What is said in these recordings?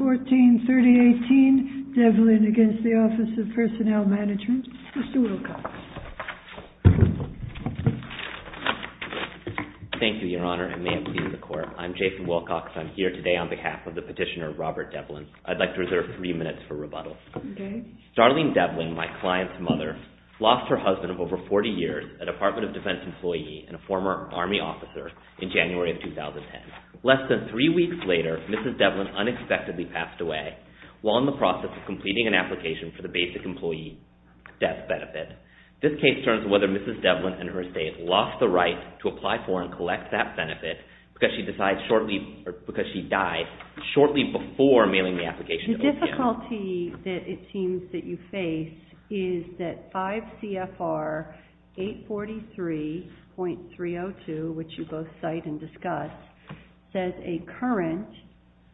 143018 Devlin v. Office of Personnel Management Thank you, Your Honor, and may it please the Court. I'm Jason Wilcox. I'm here today on behalf of the petitioner Robert Devlin. I'd like to reserve three minutes for rebuttal. Darlene Devlin, my client's mother, lost her husband of over 40 years, a Department of Defense employee and a former Army officer, in January of 2010. Less than three weeks later, Mrs. Devlin unexpectedly passed away while in the process of completing an application for the Basic Employee Death Benefit. This case turns whether Mrs. Devlin and her estate lost the right to apply for and collect that benefit because she died shortly before mailing the application to OPM. The difficulty that it seems that you face is that 5 CFR 843.302, which you both cite and discuss, says a current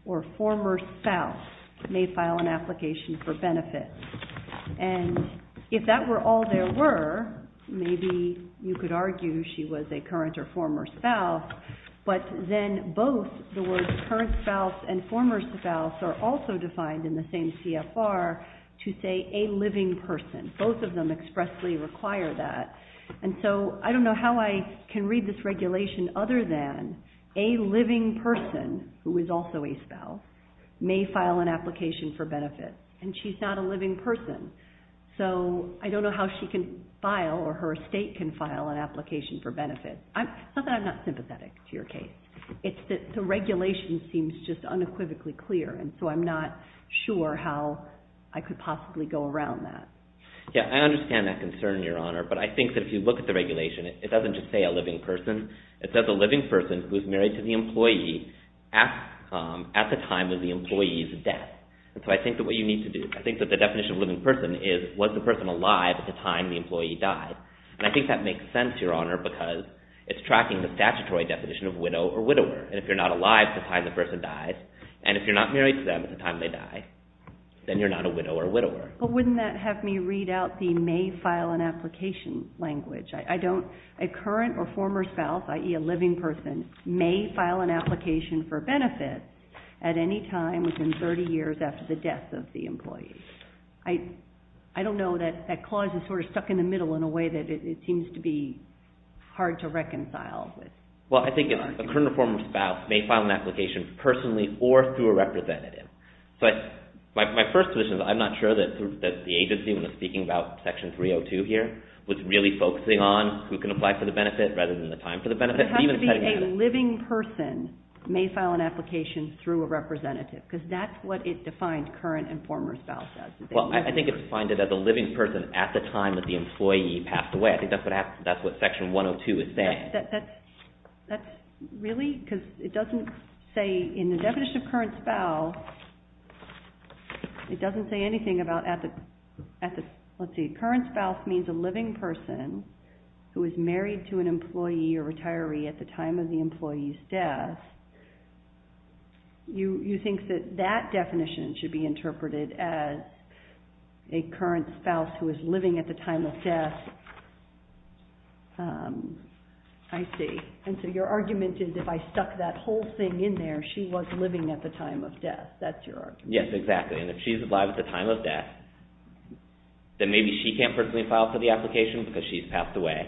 or former spouse may file an application for benefit. And if that were all there were, maybe you could argue she was a current or former spouse, but then both the words current spouse and former spouse are also defined in the same CFR to say a living person. Both of them expressly require that. And so I don't know how I can read this regulation other than a living person, who is also a spouse, may file an application for benefit. And she's not a living person, so I don't know how she can file or her estate can file an application for benefit. It's not that I'm not sympathetic to your case. It's that the regulation seems just unequivocally clear, and so I'm not sure how I could possibly go around that. Yeah, I understand that concern, Your Honor, but I think that if you look at the regulation, it doesn't just say a living person. It says a living person who is married to the employee at the time of the employee's death. And so I think that what you need to do, I think that the definition of a living person is was the person alive at the time the employee died. And I think that makes sense, Your Honor, because it's tracking the statutory definition of widow or widower. And if you're not alive at the time the person dies, and if you're not married to them at the time they die, then you're not a widow or widower. But wouldn't that have me read out the may file an application language? I don't, a current or former spouse, i.e. a living person, may file an application for benefit at any time within 30 years after the death of the employee. I don't know that that clause is sort of stuck in the middle in a way that it seems to be hard to reconcile. Well, I think a current or former spouse may file an application personally or through a representative. But my first position is I'm not sure that the agency, when they're speaking about Section 302 here, was really focusing on who can apply for the benefit rather than the time for the benefit. It has to be a living person may file an application through a representative because that's what it defined current and former spouse as. Well, I think it's defined it as a living person at the time that the employee passed away. I think that's what Section 102 is saying. Yes, that's really, because it doesn't say in the definition of current spouse, it doesn't say anything about at the, let's see, current spouse means a living person who is married to an employee or retiree at the time of the employee's death. You think that that definition should be interpreted as a current spouse who is living at the time of death. I see. And so your argument is if I stuck that whole thing in there, she was living at the time of death. That's your argument. Yes, exactly. And if she's alive at the time of death, then maybe she can't personally file for the application because she's passed away.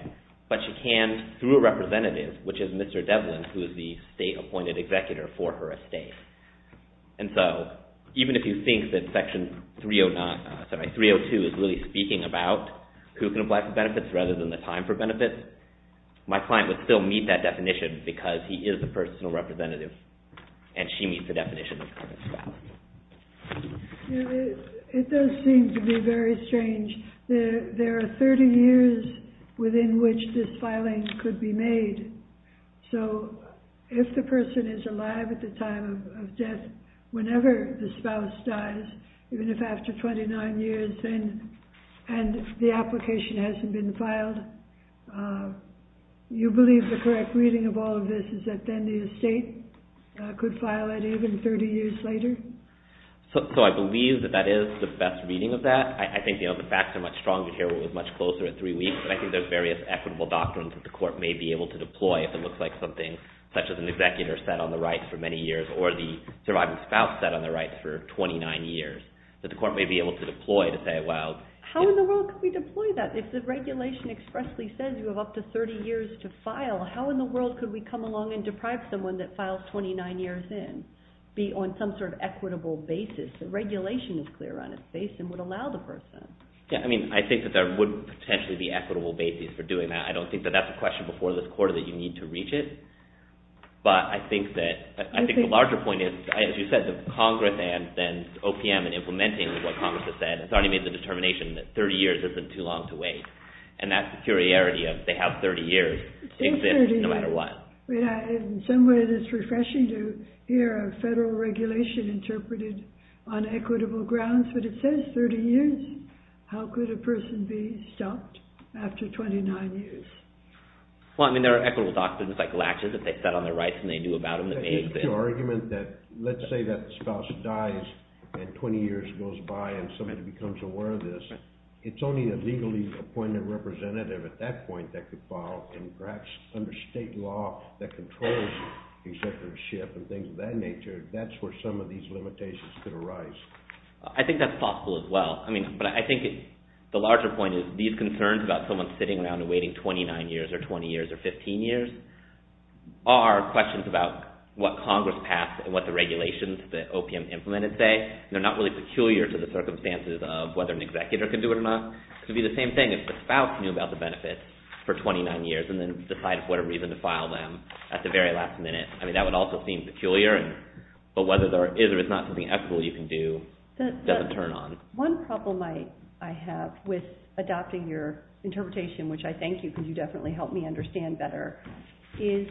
But she can through a representative, which is Mr. Devlin, who is the state-appointed executor for her estate. And so even if you think that Section 302 is really speaking about who can apply for benefits rather than the time for benefits, my client would still meet that definition because he is a personal representative and she meets the definition of current spouse. It does seem to be very strange. There are 30 years within which this filing could be made. So if the person is alive at the time of death, whenever the spouse dies, even if after 29 years and the application hasn't been filed, you believe the correct reading of all of this is that then the estate could file it even 30 years later? So I believe that that is the best reading of that. I think the facts are much stronger here. It was much closer at three weeks. And I think there's various equitable doctrines that the court may be able to deploy if it looks like something such as an executor sat on the right for many years or the surviving spouse sat on the right for 29 years. How in the world could we deploy that? If the regulation expressly says you have up to 30 years to file, how in the world could we come along and deprive someone that files 29 years in, be on some sort of equitable basis? The regulation is clear on its face and would allow the person. I think that there would potentially be equitable basis for doing that. I don't think that that's a question before this quarter that you need to reach it. But I think the larger point is, as you said, that Congress and OPM in implementing what Congress has said has already made the determination that 30 years isn't too long to wait. And that's the curiarity of they have 30 years to exist no matter what. In some way, it's refreshing to hear a federal regulation interpreted on equitable grounds. But it says 30 years. How could a person be stopped after 29 years? Well, I mean, there are equitable doctrines like Latches that they sat on their rights and they do about them. The argument that, let's say that the spouse dies and 20 years goes by and somebody becomes aware of this, it's only a legally appointed representative at that point that could file. And perhaps under state law that controls executiveship and things of that nature, that's where some of these limitations could arise. I think that's possible as well. But I think the larger point is these concerns about someone sitting around and waiting 29 years or 20 years or 15 years are questions about what Congress passed and what the regulations that OPM implemented say. And they're not really peculiar to the circumstances of whether an executor could do it or not. It could be the same thing if the spouse knew about the benefits for 29 years and then decided for whatever reason to file them at the very last minute. I mean, that would also seem peculiar. But whether there is or is not something equitable you can do doesn't turn on. One problem I have with adopting your interpretation, which I thank you because you definitely helped me understand better, is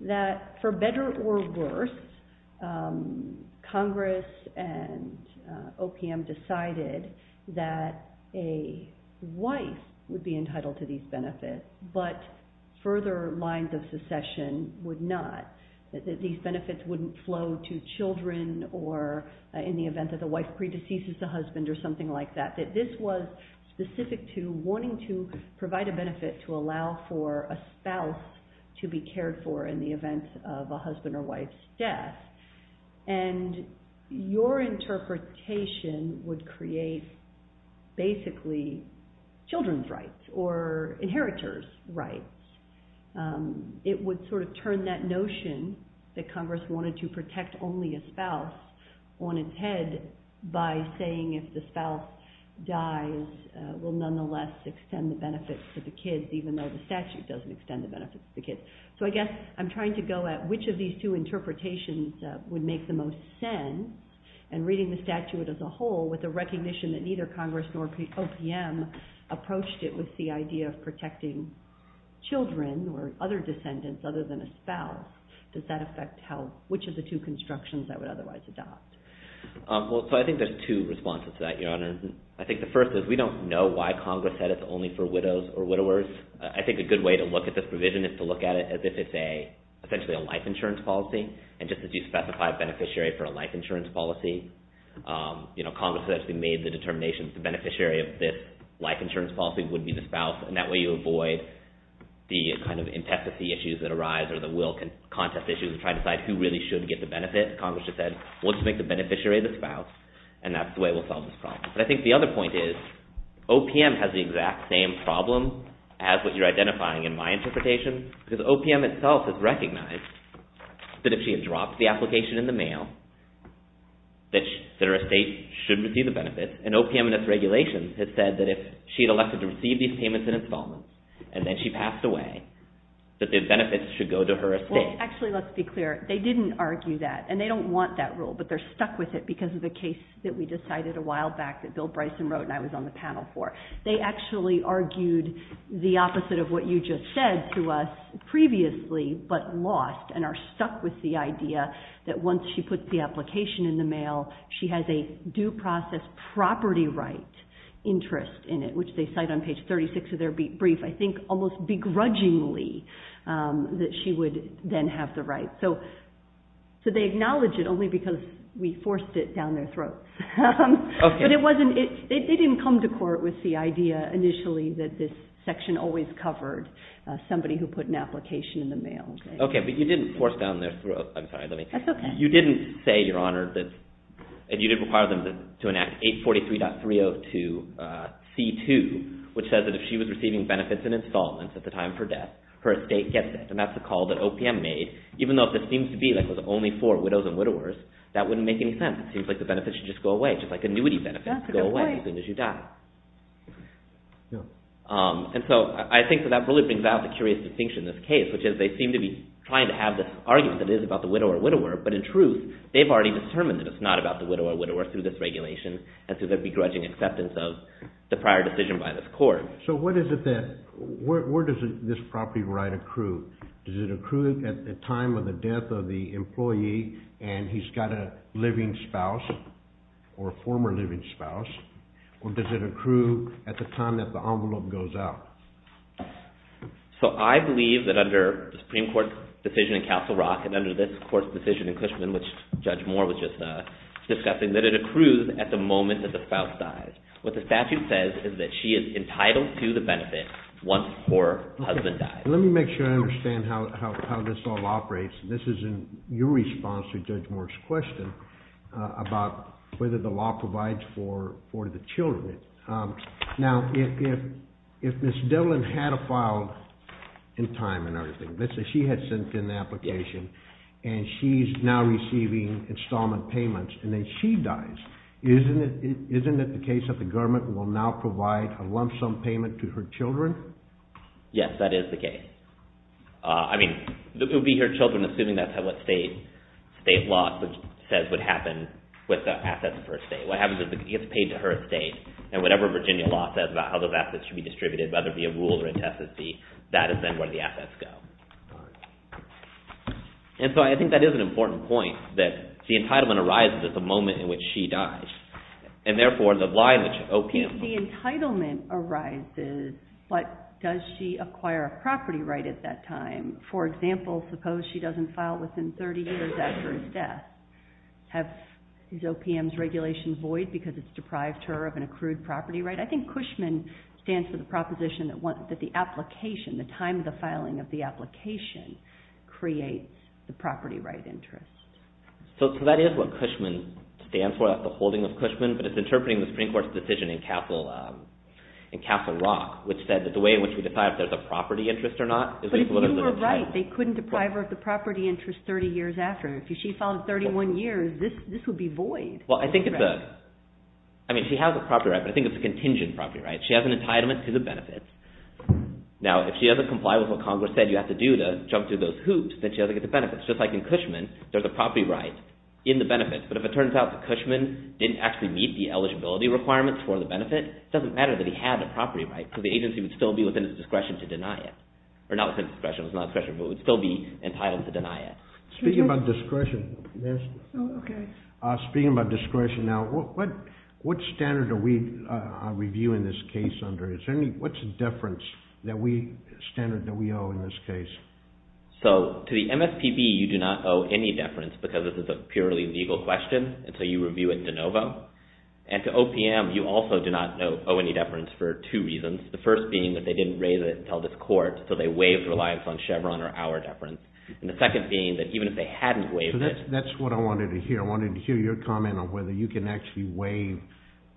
that for better or worse, Congress and OPM decided that a wife would be entitled to these benefits, but further lines of secession would not. These benefits wouldn't flow to children or in the event that the wife predeceases the husband or something like that. This was specific to wanting to provide a benefit to allow for a spouse to be cared for in the event of a husband or wife's death. And your interpretation would create basically children's rights or inheritors' rights. It would sort of turn that notion that Congress wanted to protect only a spouse on its head by saying if the spouse dies, we'll nonetheless extend the benefits to the kids even though the statute doesn't extend the benefits to the kids. So I guess I'm trying to go at which of these two interpretations would make the most sense and reading the statute as a whole with the recognition that neither Congress nor OPM approached it with the idea of protecting children or other descendants other than a spouse. Does that affect which of the two I think there's two responses to that, Your Honor. I think the first is we don't know why Congress said it's only for widows or widowers. I think a good way to look at this provision is to look at it as if it's essentially a life insurance policy. And just as you specified beneficiary for a life insurance policy, Congress actually made the determination that the beneficiary of this life insurance policy would be the spouse. And that way you avoid the kind of intensity issues that arise or the will contest issues of trying to decide who really should get the benefit. Congress just said we'll just make the beneficiary the spouse and that's the way we'll solve this problem. But I think the other point is OPM has the exact same problem as what you're identifying in my interpretation because OPM itself has recognized that if she had dropped the application in the mail that her estate should receive the benefits. And OPM in its regulations has said that if she had elected to receive these payments and installments and then she passed away that the benefits should go to her estate. Actually, let's be clear. They didn't argue that and they don't want that rule but they're stuck with it because of the case that we decided a while back that Bill Bryson wrote and I was on the panel for. They actually argued the opposite of what you just said to us previously but lost and are stuck with the idea that once she puts the application in the mail, she has a due process property right interest in it, which they cite on page 36 of their brief. I think almost begrudgingly that she would then have the right. So they acknowledge it only because we forced it down their throat. But they didn't come to court with the idea initially that this section always covered somebody who put an application in the mail. Okay, but you didn't force down their throat. I'm sorry. That's okay. You didn't say, Your Honor, and you didn't require them to enact 843.302 C2, which says that if she was receiving benefits and installments at the time of her death, her estate gets it. And that's the call that OPM made, even though if it seems to be like it was only for widows and widowers, that wouldn't make any sense. It seems like the benefits should just go away, just like annuity benefits go away as soon as you die. And so I think that that really brings out the curious distinction in this case, which is they seem to be trying to have this argument that it is about the widow or widower, but in truth, they've already determined that it's not about the widow or widower through this regulation and through the begrudging acceptance of the prior decision by this court. So where does this property right accrue? Does it accrue at the time of the death of the employee and he's got a living spouse or a former living spouse, or does it accrue at the time that the envelope goes out? So I believe that under the Supreme Court's decision in Castle Rock and under this court's decision in Cushman, which Judge Moore was just discussing, that it accrues at the moment that the spouse dies. What the statute says is that she is entitled to the benefit once her husband dies. Let me make sure I understand how this all operates. This is in your response to Judge Moore's question about whether the law provides for the children. Now, if Ms. Devlin had a file in time and everything, let's say she had sent in the child, isn't it the case that the government will now provide a lump sum payment to her children? Yes, that is the case. I mean, it would be her children, assuming that's what state law says would happen with the assets for a state. What happens is it gets paid to her estate, and whatever Virginia law says about how those assets should be distributed, whether it be a rule or a test, that is then where the assets go. And so I think that is an important point, that the entitlement arises at the moment in which she dies. And therefore, the liability of OPM. The entitlement arises, but does she acquire a property right at that time? For example, suppose she doesn't file within 30 years after his death. Have these OPM's regulations void because it's deprived her of an accrued property right? I think Cushman stands for the proposition that the application, the time of the filing of the application, creates the property right interest. So that is what Cushman stands for, that's the holding of Cushman, but it's interpreting the Supreme Court's decision in Castle Rock, which said that the way in which we decide if there's a property interest or not. But if you were right, they couldn't deprive her of the property interest 30 years after. If she filed 31 years, this would be void. Well, I think it's a, I mean, she has a property right, but I think it's a contingent property right. She has an entitlement to the benefits. Now, if she doesn't comply with what Congress said you have to do to jump through those hoops, then she doesn't get the benefits. Just like in Cushman, there's a property right in the benefits, but if it turns out that Cushman didn't actually meet the eligibility requirements for the benefit, it doesn't matter that he had a property right because the agency would still be within his discretion to deny it. Or not within his discretion, but would still be entitled to deny it. Speaking about discretion, speaking about discretion now, what standard are we reviewing this case under? What's the difference that we, the standard that we owe in this case? So, to the MSPB, you do not owe any deference because this is a purely legal question, and so you review it de novo. And to OPM, you also do not owe any deference for two reasons. The first being that they didn't raise it until this court, so they waived reliance on Chevron or our deference. And the second being that even if they hadn't waived it. That's what I wanted to hear. I wanted to hear your comment on whether you can actually waive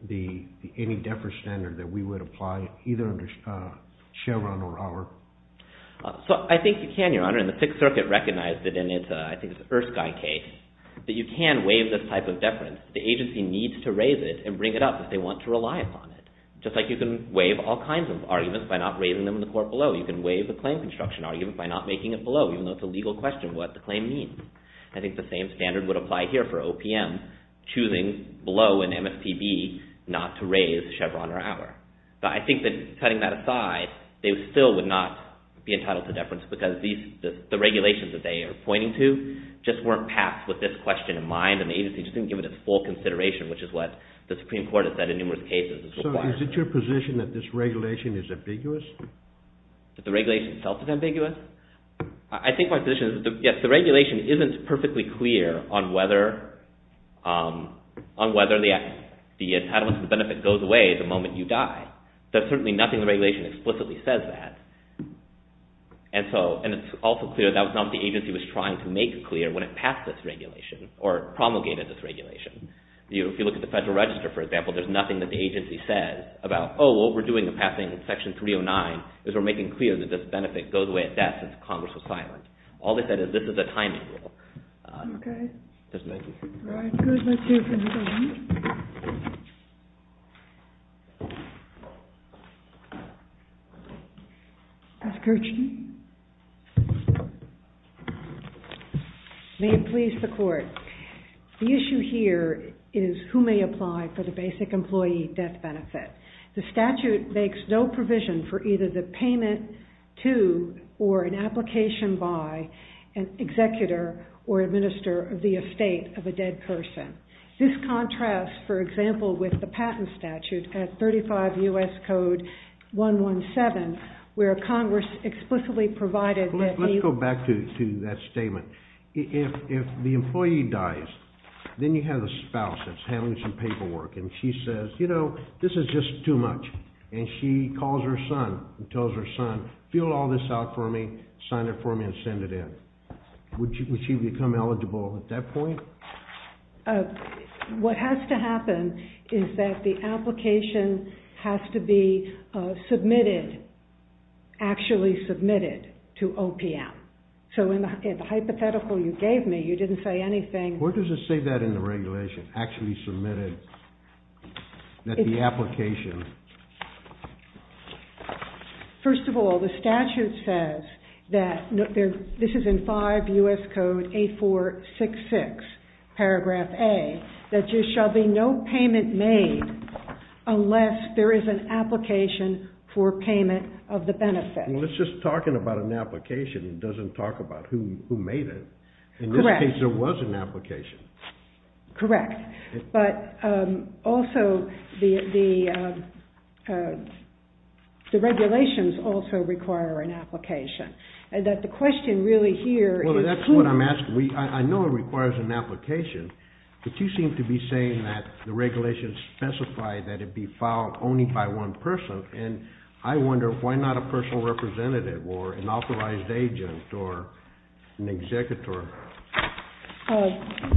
any deference standard that we would apply either under Chevron or our. So, I think you can, Your Honor, and the Sixth Circuit recognized it in its, I think it's Erskine case, that you can waive this type of deference. The agency needs to raise it and bring it up if they want to rely upon it. Just like you can waive all kinds of arguments by not raising them in the court below. You can waive a claim construction argument by not making it below, even though it's a legal question what the claim means. I think the same standard would apply here for OPM choosing below an MSPB not to raise Chevron or our. But I think that, cutting that aside, they still would not be entitled to deference because these, the regulations that they are pointing to just weren't passed with this question in mind and the agency just didn't give it its full consideration, which is what the Supreme Court has said in numerous cases. So, is it your position that this regulation is ambiguous? That the regulation itself is ambiguous? I think my position is that, yes, the regulation isn't perfectly clear on whether the entitlement to the benefit goes away the moment you die. There's certainly nothing in the regulation that explicitly says that. And it's also clear that was not what the agency was trying to make clear when it passed this regulation or promulgated this regulation. If you look at the Federal Register, for example, there's nothing that the agency says about, oh, what we're doing in passing Section 309 is we're making clear that this benefit goes away at death since Congress was silent. All they said is this is a timing rule. Okay. All right, good. Let's hear from the government. Ms. Kirchner. May it please the Court. The issue here is who may apply for the basic employee death benefit. The statute makes no provision for either the payment to or an application by an executor or administrator of the estate of a dead person. This contrasts, for example, with the patent statute at 35 U.S. Code 117, where Congress explicitly provided that the— Let's go back to that statement. If the employee dies, then you have the spouse that's handling some paperwork, and she says, you know, this is just too much. And she calls her son and tells her son, fill all this out for me, sign it for me, and send it in. Would she become eligible at that point? What has to happen is that the application has to be submitted, actually submitted to OPM. So in the hypothetical you gave me, you didn't say anything— Where does it say that in the regulation, actually submitted, that the application— First of all, the statute says that—this is in 5 U.S. Code 8466, paragraph A—that there shall be no payment made unless there is an application for payment of the benefit. Well, it's just talking about an application. It doesn't talk about who made it. Correct. In this case, there was an application. Correct. But also, the regulations also require an application. And that the question really here— Well, that's what I'm asking. I know it requires an application, but you seem to be saying that the regulations specify that it be filed only by one person. And I wonder, why not a personal representative or an authorized agent or an executor?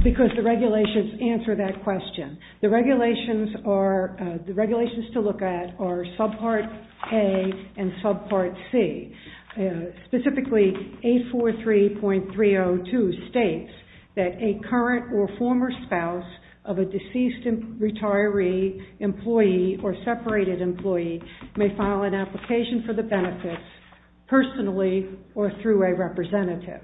Because the regulations answer that question. The regulations are—the regulations to look at are subpart A and subpart C. Specifically, 843.302 states that a current or former spouse of a deceased retiree, employee, or separated employee may file an application for the benefits personally or through a representative.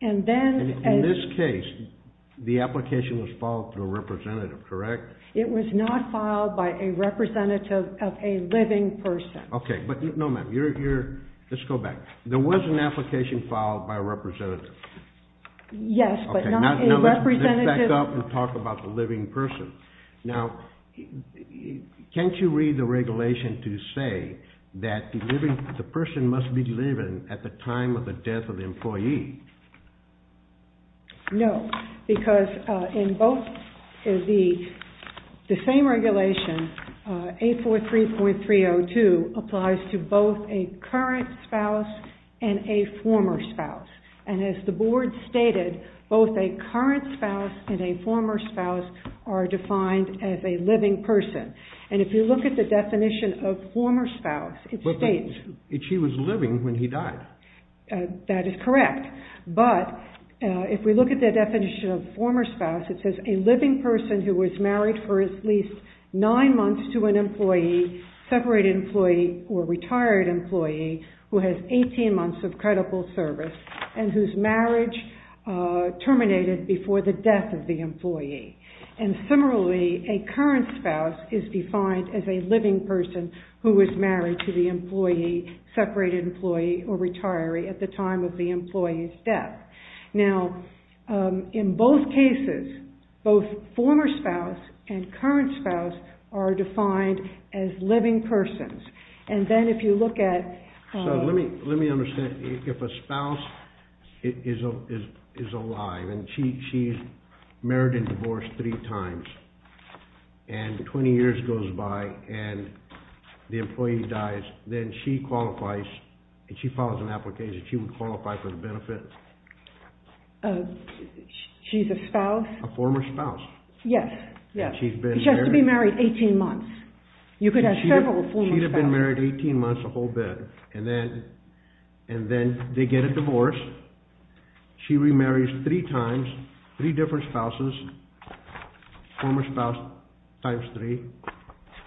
And then— And in this case, the application was filed through a representative, correct? It was not filed by a representative of a living person. Okay. But no, ma'am, you're—let's go back. There was an application filed by a representative. Yes, but not a representative— Okay, now let's back up and talk about the living person. Now, can't you read the regulation to say that the living—the person must be living at the time of the death of the employee? No, because in both—the same regulation, 843.302 applies to both a current spouse and a former spouse. And as the board stated, both a current spouse and a former spouse are defined as a living person. And if you look at the definition of former spouse, it states— But she was living when he died. That is correct. But if we look at the definition of former spouse, it says a living person who was married for at least nine months to an employee, separated employee, or retired employee, who has 18 months of credible service and whose marriage terminated before the death of the employee. And similarly, a current spouse is defined as a living person who was married to the employee, separated employee, or retiree at the time of the employee's death. Now, in both cases, both former spouse and current spouse are defined as living persons. And then if you look at— Yes. She has to be married 18 months. You could have several former spouses. She'd have been married 18 months, a whole bit. And then they get a divorce. She remarries three times, three different spouses, former spouse times three.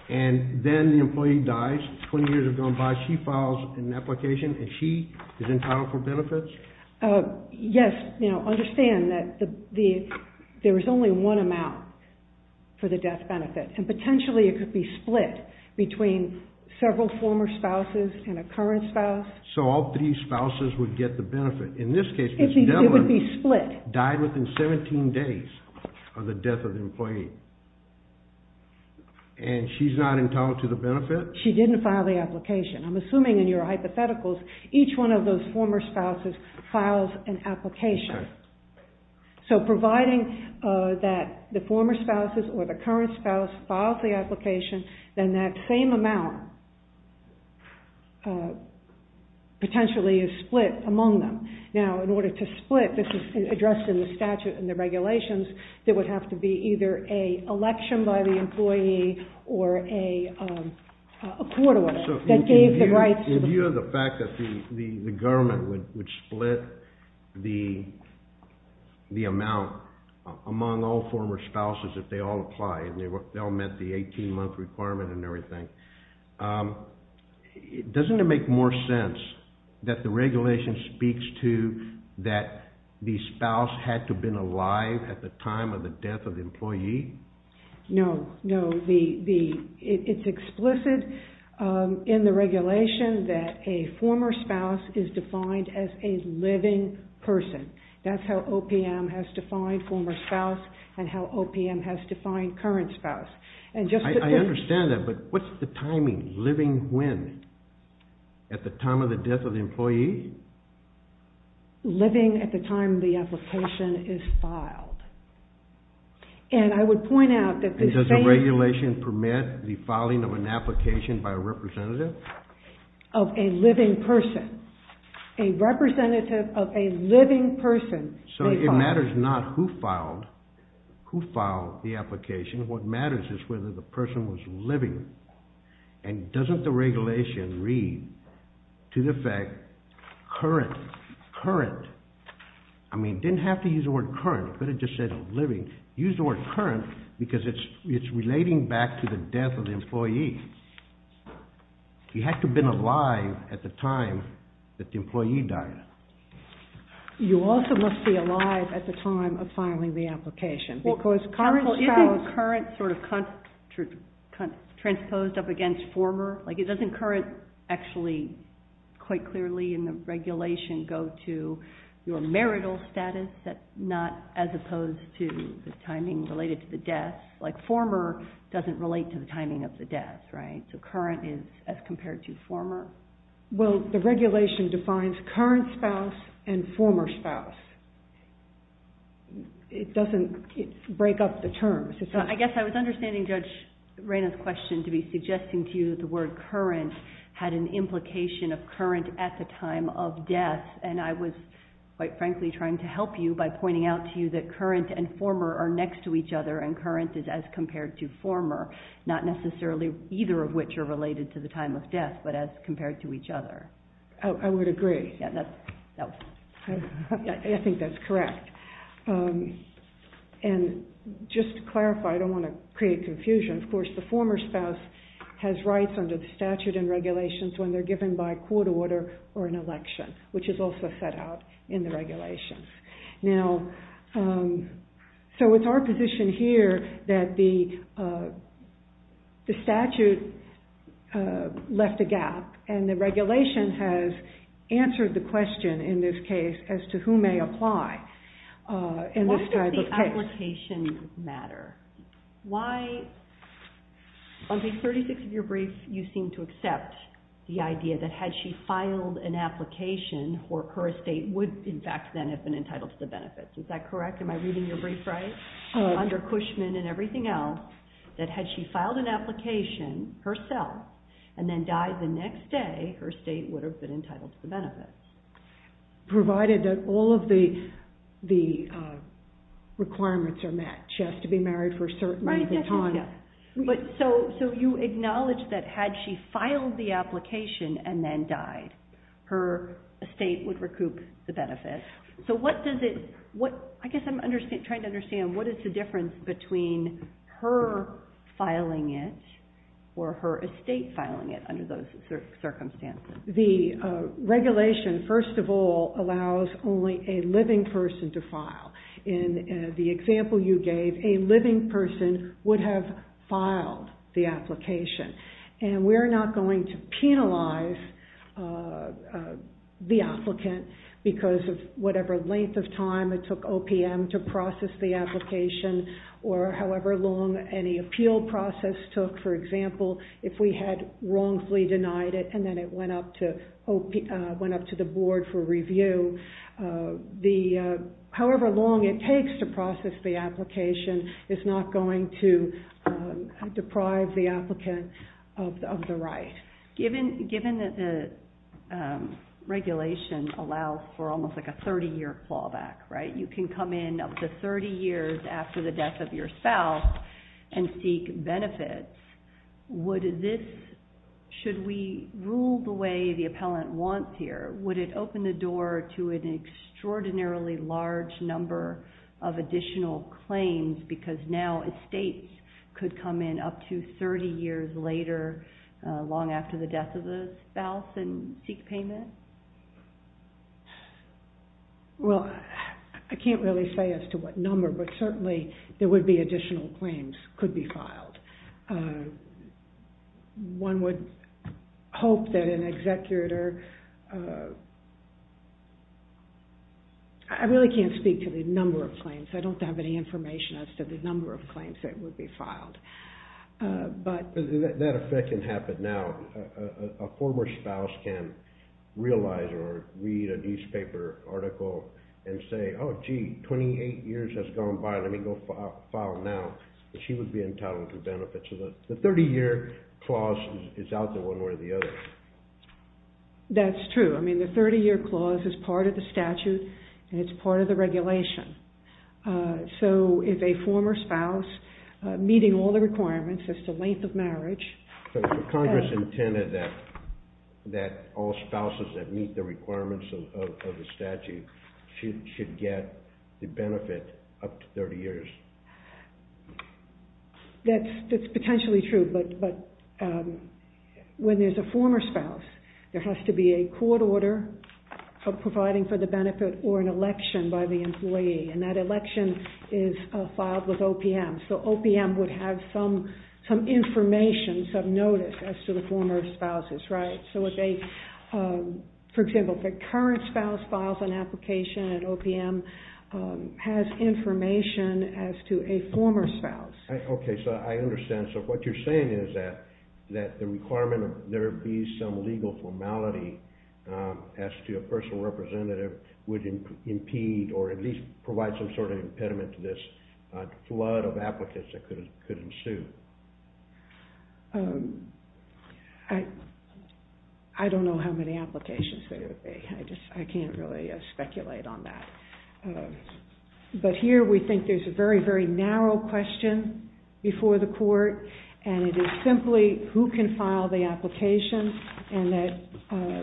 And then the employee dies. 20 years have gone by. She files an application, and she is entitled for benefits? Yes. Understand that there is only one amount for the death benefit. And potentially, it could be split between several former spouses and a current spouse. So all three spouses would get the benefit. In this case, Ms. Devlin died within 17 days of the death of the employee. And she's not entitled to the benefit? She didn't file the application. I'm assuming in your hypotheticals, each one of those former spouses files an application. So providing that the former potentially is split among them. Now, in order to split, this is addressed in the statute and the regulations, there would have to be either an election by the employee or a court order that gave the rights to the former spouse. In view of the fact that the government would split the amount among all former spouses if they all applied and they all met the 18-month requirement and everything, doesn't it make more sense that the regulation speaks to that the spouse had to have been alive at the time of the death of the employee? No, no. It's explicit in the regulation that a former spouse is defined as a living person. That's how OPM has defined former spouse and how OPM has defined current spouse. I understand that, but what's the timing? Living when? At the time of the death of the employee? Living at the time the application is filed. And I would point out that the same... And does the regulation permit the filing of an application by a representative? Of a living person. A representative of a living person may file. So it matters not who filed, who filed the application. What matters is whether the person was living. And doesn't the regulation read to the effect current, current. I mean, didn't have to use the word current, could have just said living. Use the word current because it's relating back to the death of the employee. He had to have been alive at the time that the employee died. You also must be alive at the time of filing the application because current spouse... Well, is current sort of transposed up against former? Like it doesn't current actually quite clearly in the regulation go to your marital status, not as opposed to the timing related to the death. Like former doesn't relate to the timing of the death, right? So current is as compared to former. Well, the regulation defines current spouse and former spouse. It doesn't break up the terms. I guess I was understanding Judge Reyna's question to be suggesting to you that the word current had an implication of current at the time of death. And I was quite frankly trying to help you by pointing out to you that current and former are next to each other and current is as compared to former, not necessarily either of which are related to time of death, but as compared to each other. I would agree. I think that's correct. And just to clarify, I don't want to create confusion. Of course, the former spouse has rights under the statute and regulations when they're given by court order or an election, which is also set out in the regulations. Now, so it's our position here that the left a gap and the regulation has answered the question in this case as to who may apply in this type of case. Why does the application matter? On page 36 of your brief, you seem to accept the idea that had she filed an application, her estate would in fact then have been entitled to the benefits. Is that correct? Am I reading your brief right? Under Cushman and everything else, that had she filed an application herself and then died the next day, her estate would have been entitled to the benefits. Provided that all of the requirements are met. She has to be married for a certain amount of time. Right. So you acknowledge that had she filed the application and then died, her estate would recoup the benefits. So what does it, I guess I'm trying to understand, what is the difference between her filing it or her estate filing it under those circumstances? The regulation, first of all, allows only a living person to file. In the example you gave, a living person would have filed the application. And we're not going to penalize the applicant because of whatever length of time it took OPM to process the application or however long any appeal process took. For example, if we had wrongfully denied it and then it went up to the board for review, however long it takes to process the application is not going to deprive the applicant of the right. Given that the regulation allows for almost like a 30-year clawback, right? You can come in up to 30 years after the death of your spouse and seek benefits. Would this, should we rule the way the appellant wants here? Would it open the door to an extraordinarily large number of additional claims because now estates could come in up to 30 years later, long after the death of the spouse, and seek payment? Well, I can't really say as to what number, but certainly there would be additional claims could be filed. One would hope that an executor, I really can't speak to the number of claims. I don't have any information as to the number of claims that would be filed. But... That effect can happen now. A former spouse can realize or read a newspaper article and say, oh gee, 28 years has gone by, let me go file now. She would be entitled to benefits. The 30-year clause is out there one way or the other. That's true. I mean, the 30-year clause is part of the statute and it's part of the regulation. So, if a former spouse meeting all the requirements as to length of marriage... So, Congress intended that all spouses that meet the requirements of the statute should get the benefit up to 30 years. That's potentially true, but when there's a former spouse, there has to be a court order for providing for the benefit or an election by the employee, and that election is filed with OPM. So, OPM would have some information, some notice as to the former spouses, right? So, if they, for example, the current spouse files an application and OPM has information as to a former spouse. Okay, so I understand. So, what you're saying is that the requirement of there be some legal formality as to a personal representative would impede or at least provide some sort of impediment to this flood of applicants that could ensue. I don't know how many applications there would be. I just, I can't really speculate on that. But here, we think there's a very, very narrow question before the court and it is simply who can file the application and that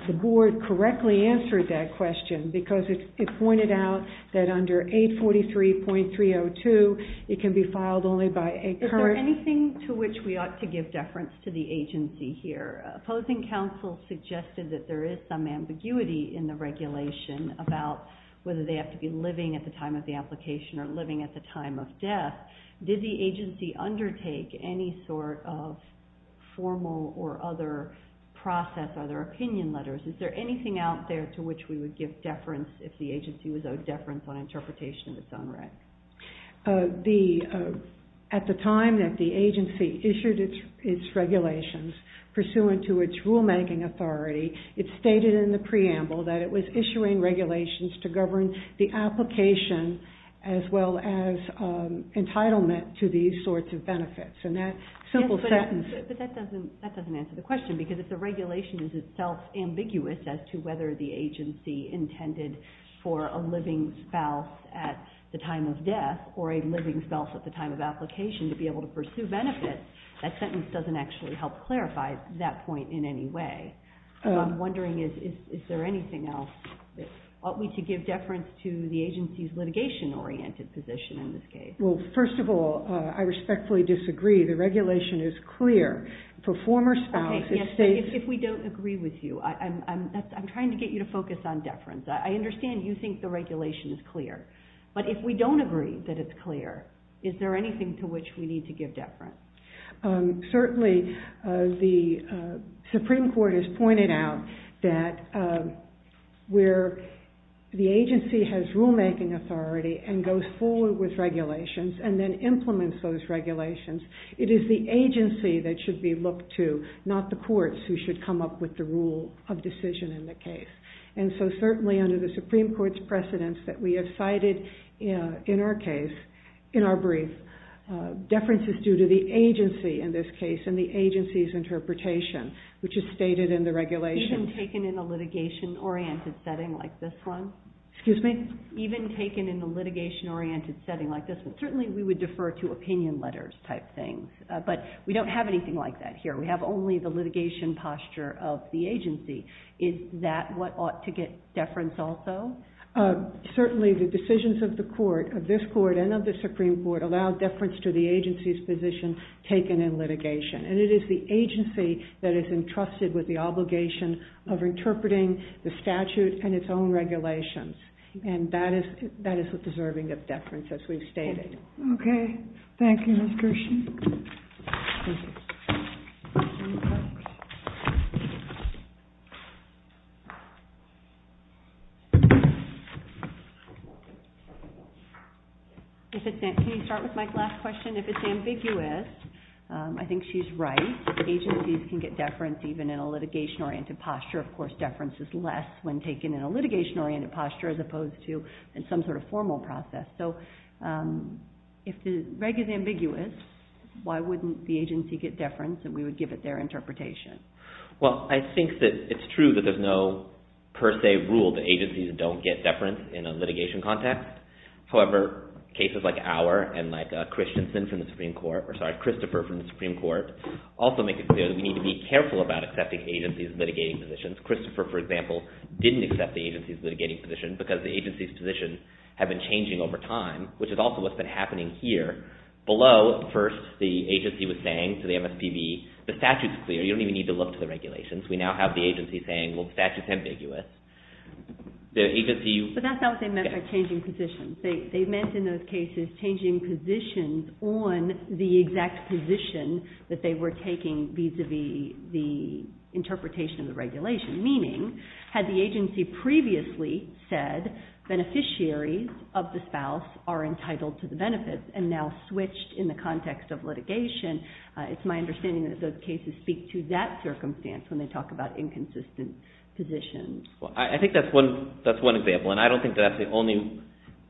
the board correctly answered that question because it pointed out that under 843.302, it can be filed only by a current... Is there anything to which we ought to give deference to the agency here? Opposing counsel suggested that there is some ambiguity in the regulation about whether they have to be living at the time of the application or living at the time of death. Did the agency undertake any sort of formal or other process or other opinion letters? Is there anything out there to which we would give deference if the agency was owed deference on interpretation of its own right? The, at the time that the agency issued its regulations pursuant to its rulemaking authority, it stated in the preamble that it was issuing regulations to govern the application as well as entitlement to these sorts of benefits and that simple sentence... But that doesn't answer the question because if the regulation is itself ambiguous as to whether the agency intended for a living spouse at the time of death or a living spouse at the time of application to be able to pursue benefits, that sentence doesn't actually help clarify that point in any way. So I'm wondering, is there anything else that ought we to give deference to the agency's litigation-oriented position in this case? Well, first of all, I respectfully disagree. The regulation is clear. For former spouse, it states... Okay, yes, but if we don't agree with you, I'm trying to get you to focus on deference. I understand you think the regulation is clear, but if we don't agree that it's clear, is there anything to which we need to give deference? Certainly, the Supreme Court has pointed out that where the agency has rulemaking authority and goes forward with regulations and then implements those regulations, it is the agency that should be looked to, not the courts, who should come up with the rule of decision in the case. And so certainly under the Supreme Court's precedence that we have cited in our brief, deference is due to the agency in this case and the agency's interpretation, which is stated in the regulation. Even taken in a litigation-oriented setting like this one? Excuse me? Even taken in a litigation-oriented setting like this one? Certainly, we would like that here. We have only the litigation posture of the agency. Is that what ought to get deference also? Certainly, the decisions of the court, of this court and of the Supreme Court, allow deference to the agency's position taken in litigation. And it is the agency that is entrusted with the obligation of interpreting the statute and its own regulations. And that is the deserving of deference, as we've stated. Okay. Thank you, Ms. Kirshen. Can you start with Mike's last question? If it's ambiguous, I think she's right. Agencies can get deference even in a litigation-oriented posture. Of course, deference is less when taken in a litigation-oriented posture as opposed to in some sort of formal process. So, if the reg is ambiguous, why wouldn't the agency get deference and we would give it their interpretation? Well, I think that it's true that there's no per se rule that agencies don't get deference in a litigation context. However, cases like our and like Christopher from the Supreme Court also make it clear that we need to be careful about accepting agencies' litigating positions. Christopher, for example, didn't accept the have been changing over time, which is also what's been happening here. Below, first, the agency was saying to the MSPB, the statute's clear. You don't even need to look to the regulations. We now have the agency saying, well, the statute's ambiguous. The agency... But that's not what they meant by changing positions. They meant in those cases changing positions on the exact position that they were taking vis-à-vis the interpretation of the beneficiaries of the spouse are entitled to the benefits and now switched in the context of litigation. It's my understanding that those cases speak to that circumstance when they talk about inconsistent positions. Well, I think that's one example, and I don't think that's the only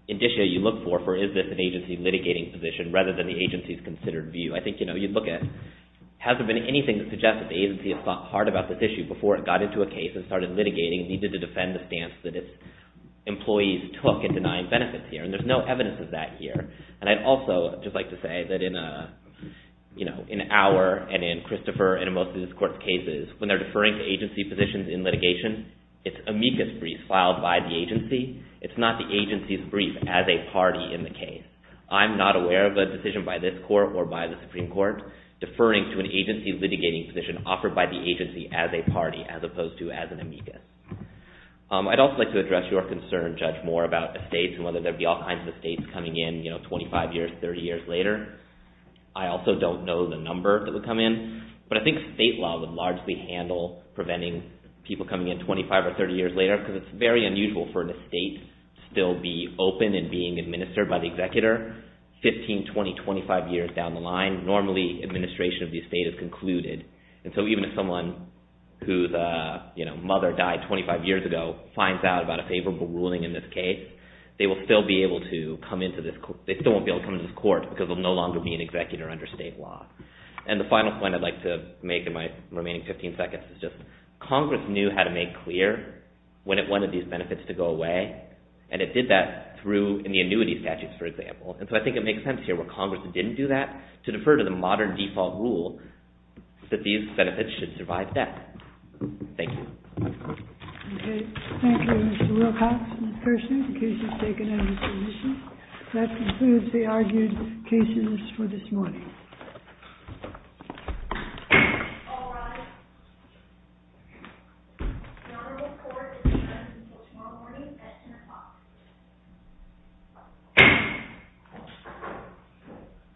indicia you look for, for is this an agency litigating position rather than the agency's considered view. I think, you know, you look at has there been anything that suggests that the agency has thought hard about this issue before it got into a case and started litigating and defended the stance that its employees took in denying benefits here, and there's no evidence of that here. And I'd also just like to say that in our and in Christopher and in most of this court's cases, when they're deferring to agency positions in litigation, it's amicus brief filed by the agency. It's not the agency's brief as a party in the case. I'm not aware of a decision by this court or by the Supreme Court deferring to an agency litigating position offered by the agency. I'd also like to address your concern, Judge Moore, about estates and whether there'd be all kinds of estates coming in, you know, 25 years, 30 years later. I also don't know the number that would come in, but I think state law would largely handle preventing people coming in 25 or 30 years later because it's very unusual for an estate still be open and being administered by the executor 15, 20, 25 years down the line. Normally, administration of the estate is finds out about a favorable ruling in this case. They still won't be able to come into this court because they'll no longer be an executor under state law. And the final point I'd like to make in my remaining 15 seconds is just Congress knew how to make clear when it wanted these benefits to go away, and it did that through the annuity statutes, for example. And so I think it makes sense here where Congress didn't do that to defer to the modern default rule that these benefits should survive death. Thank you. Okay. Thank you, Mr. Wilcox and Ms. Persaud. The case is taken under submission. That concludes the argued cases for this morning. All rise. The honorable court is adjourned until tomorrow morning at 10 o'clock.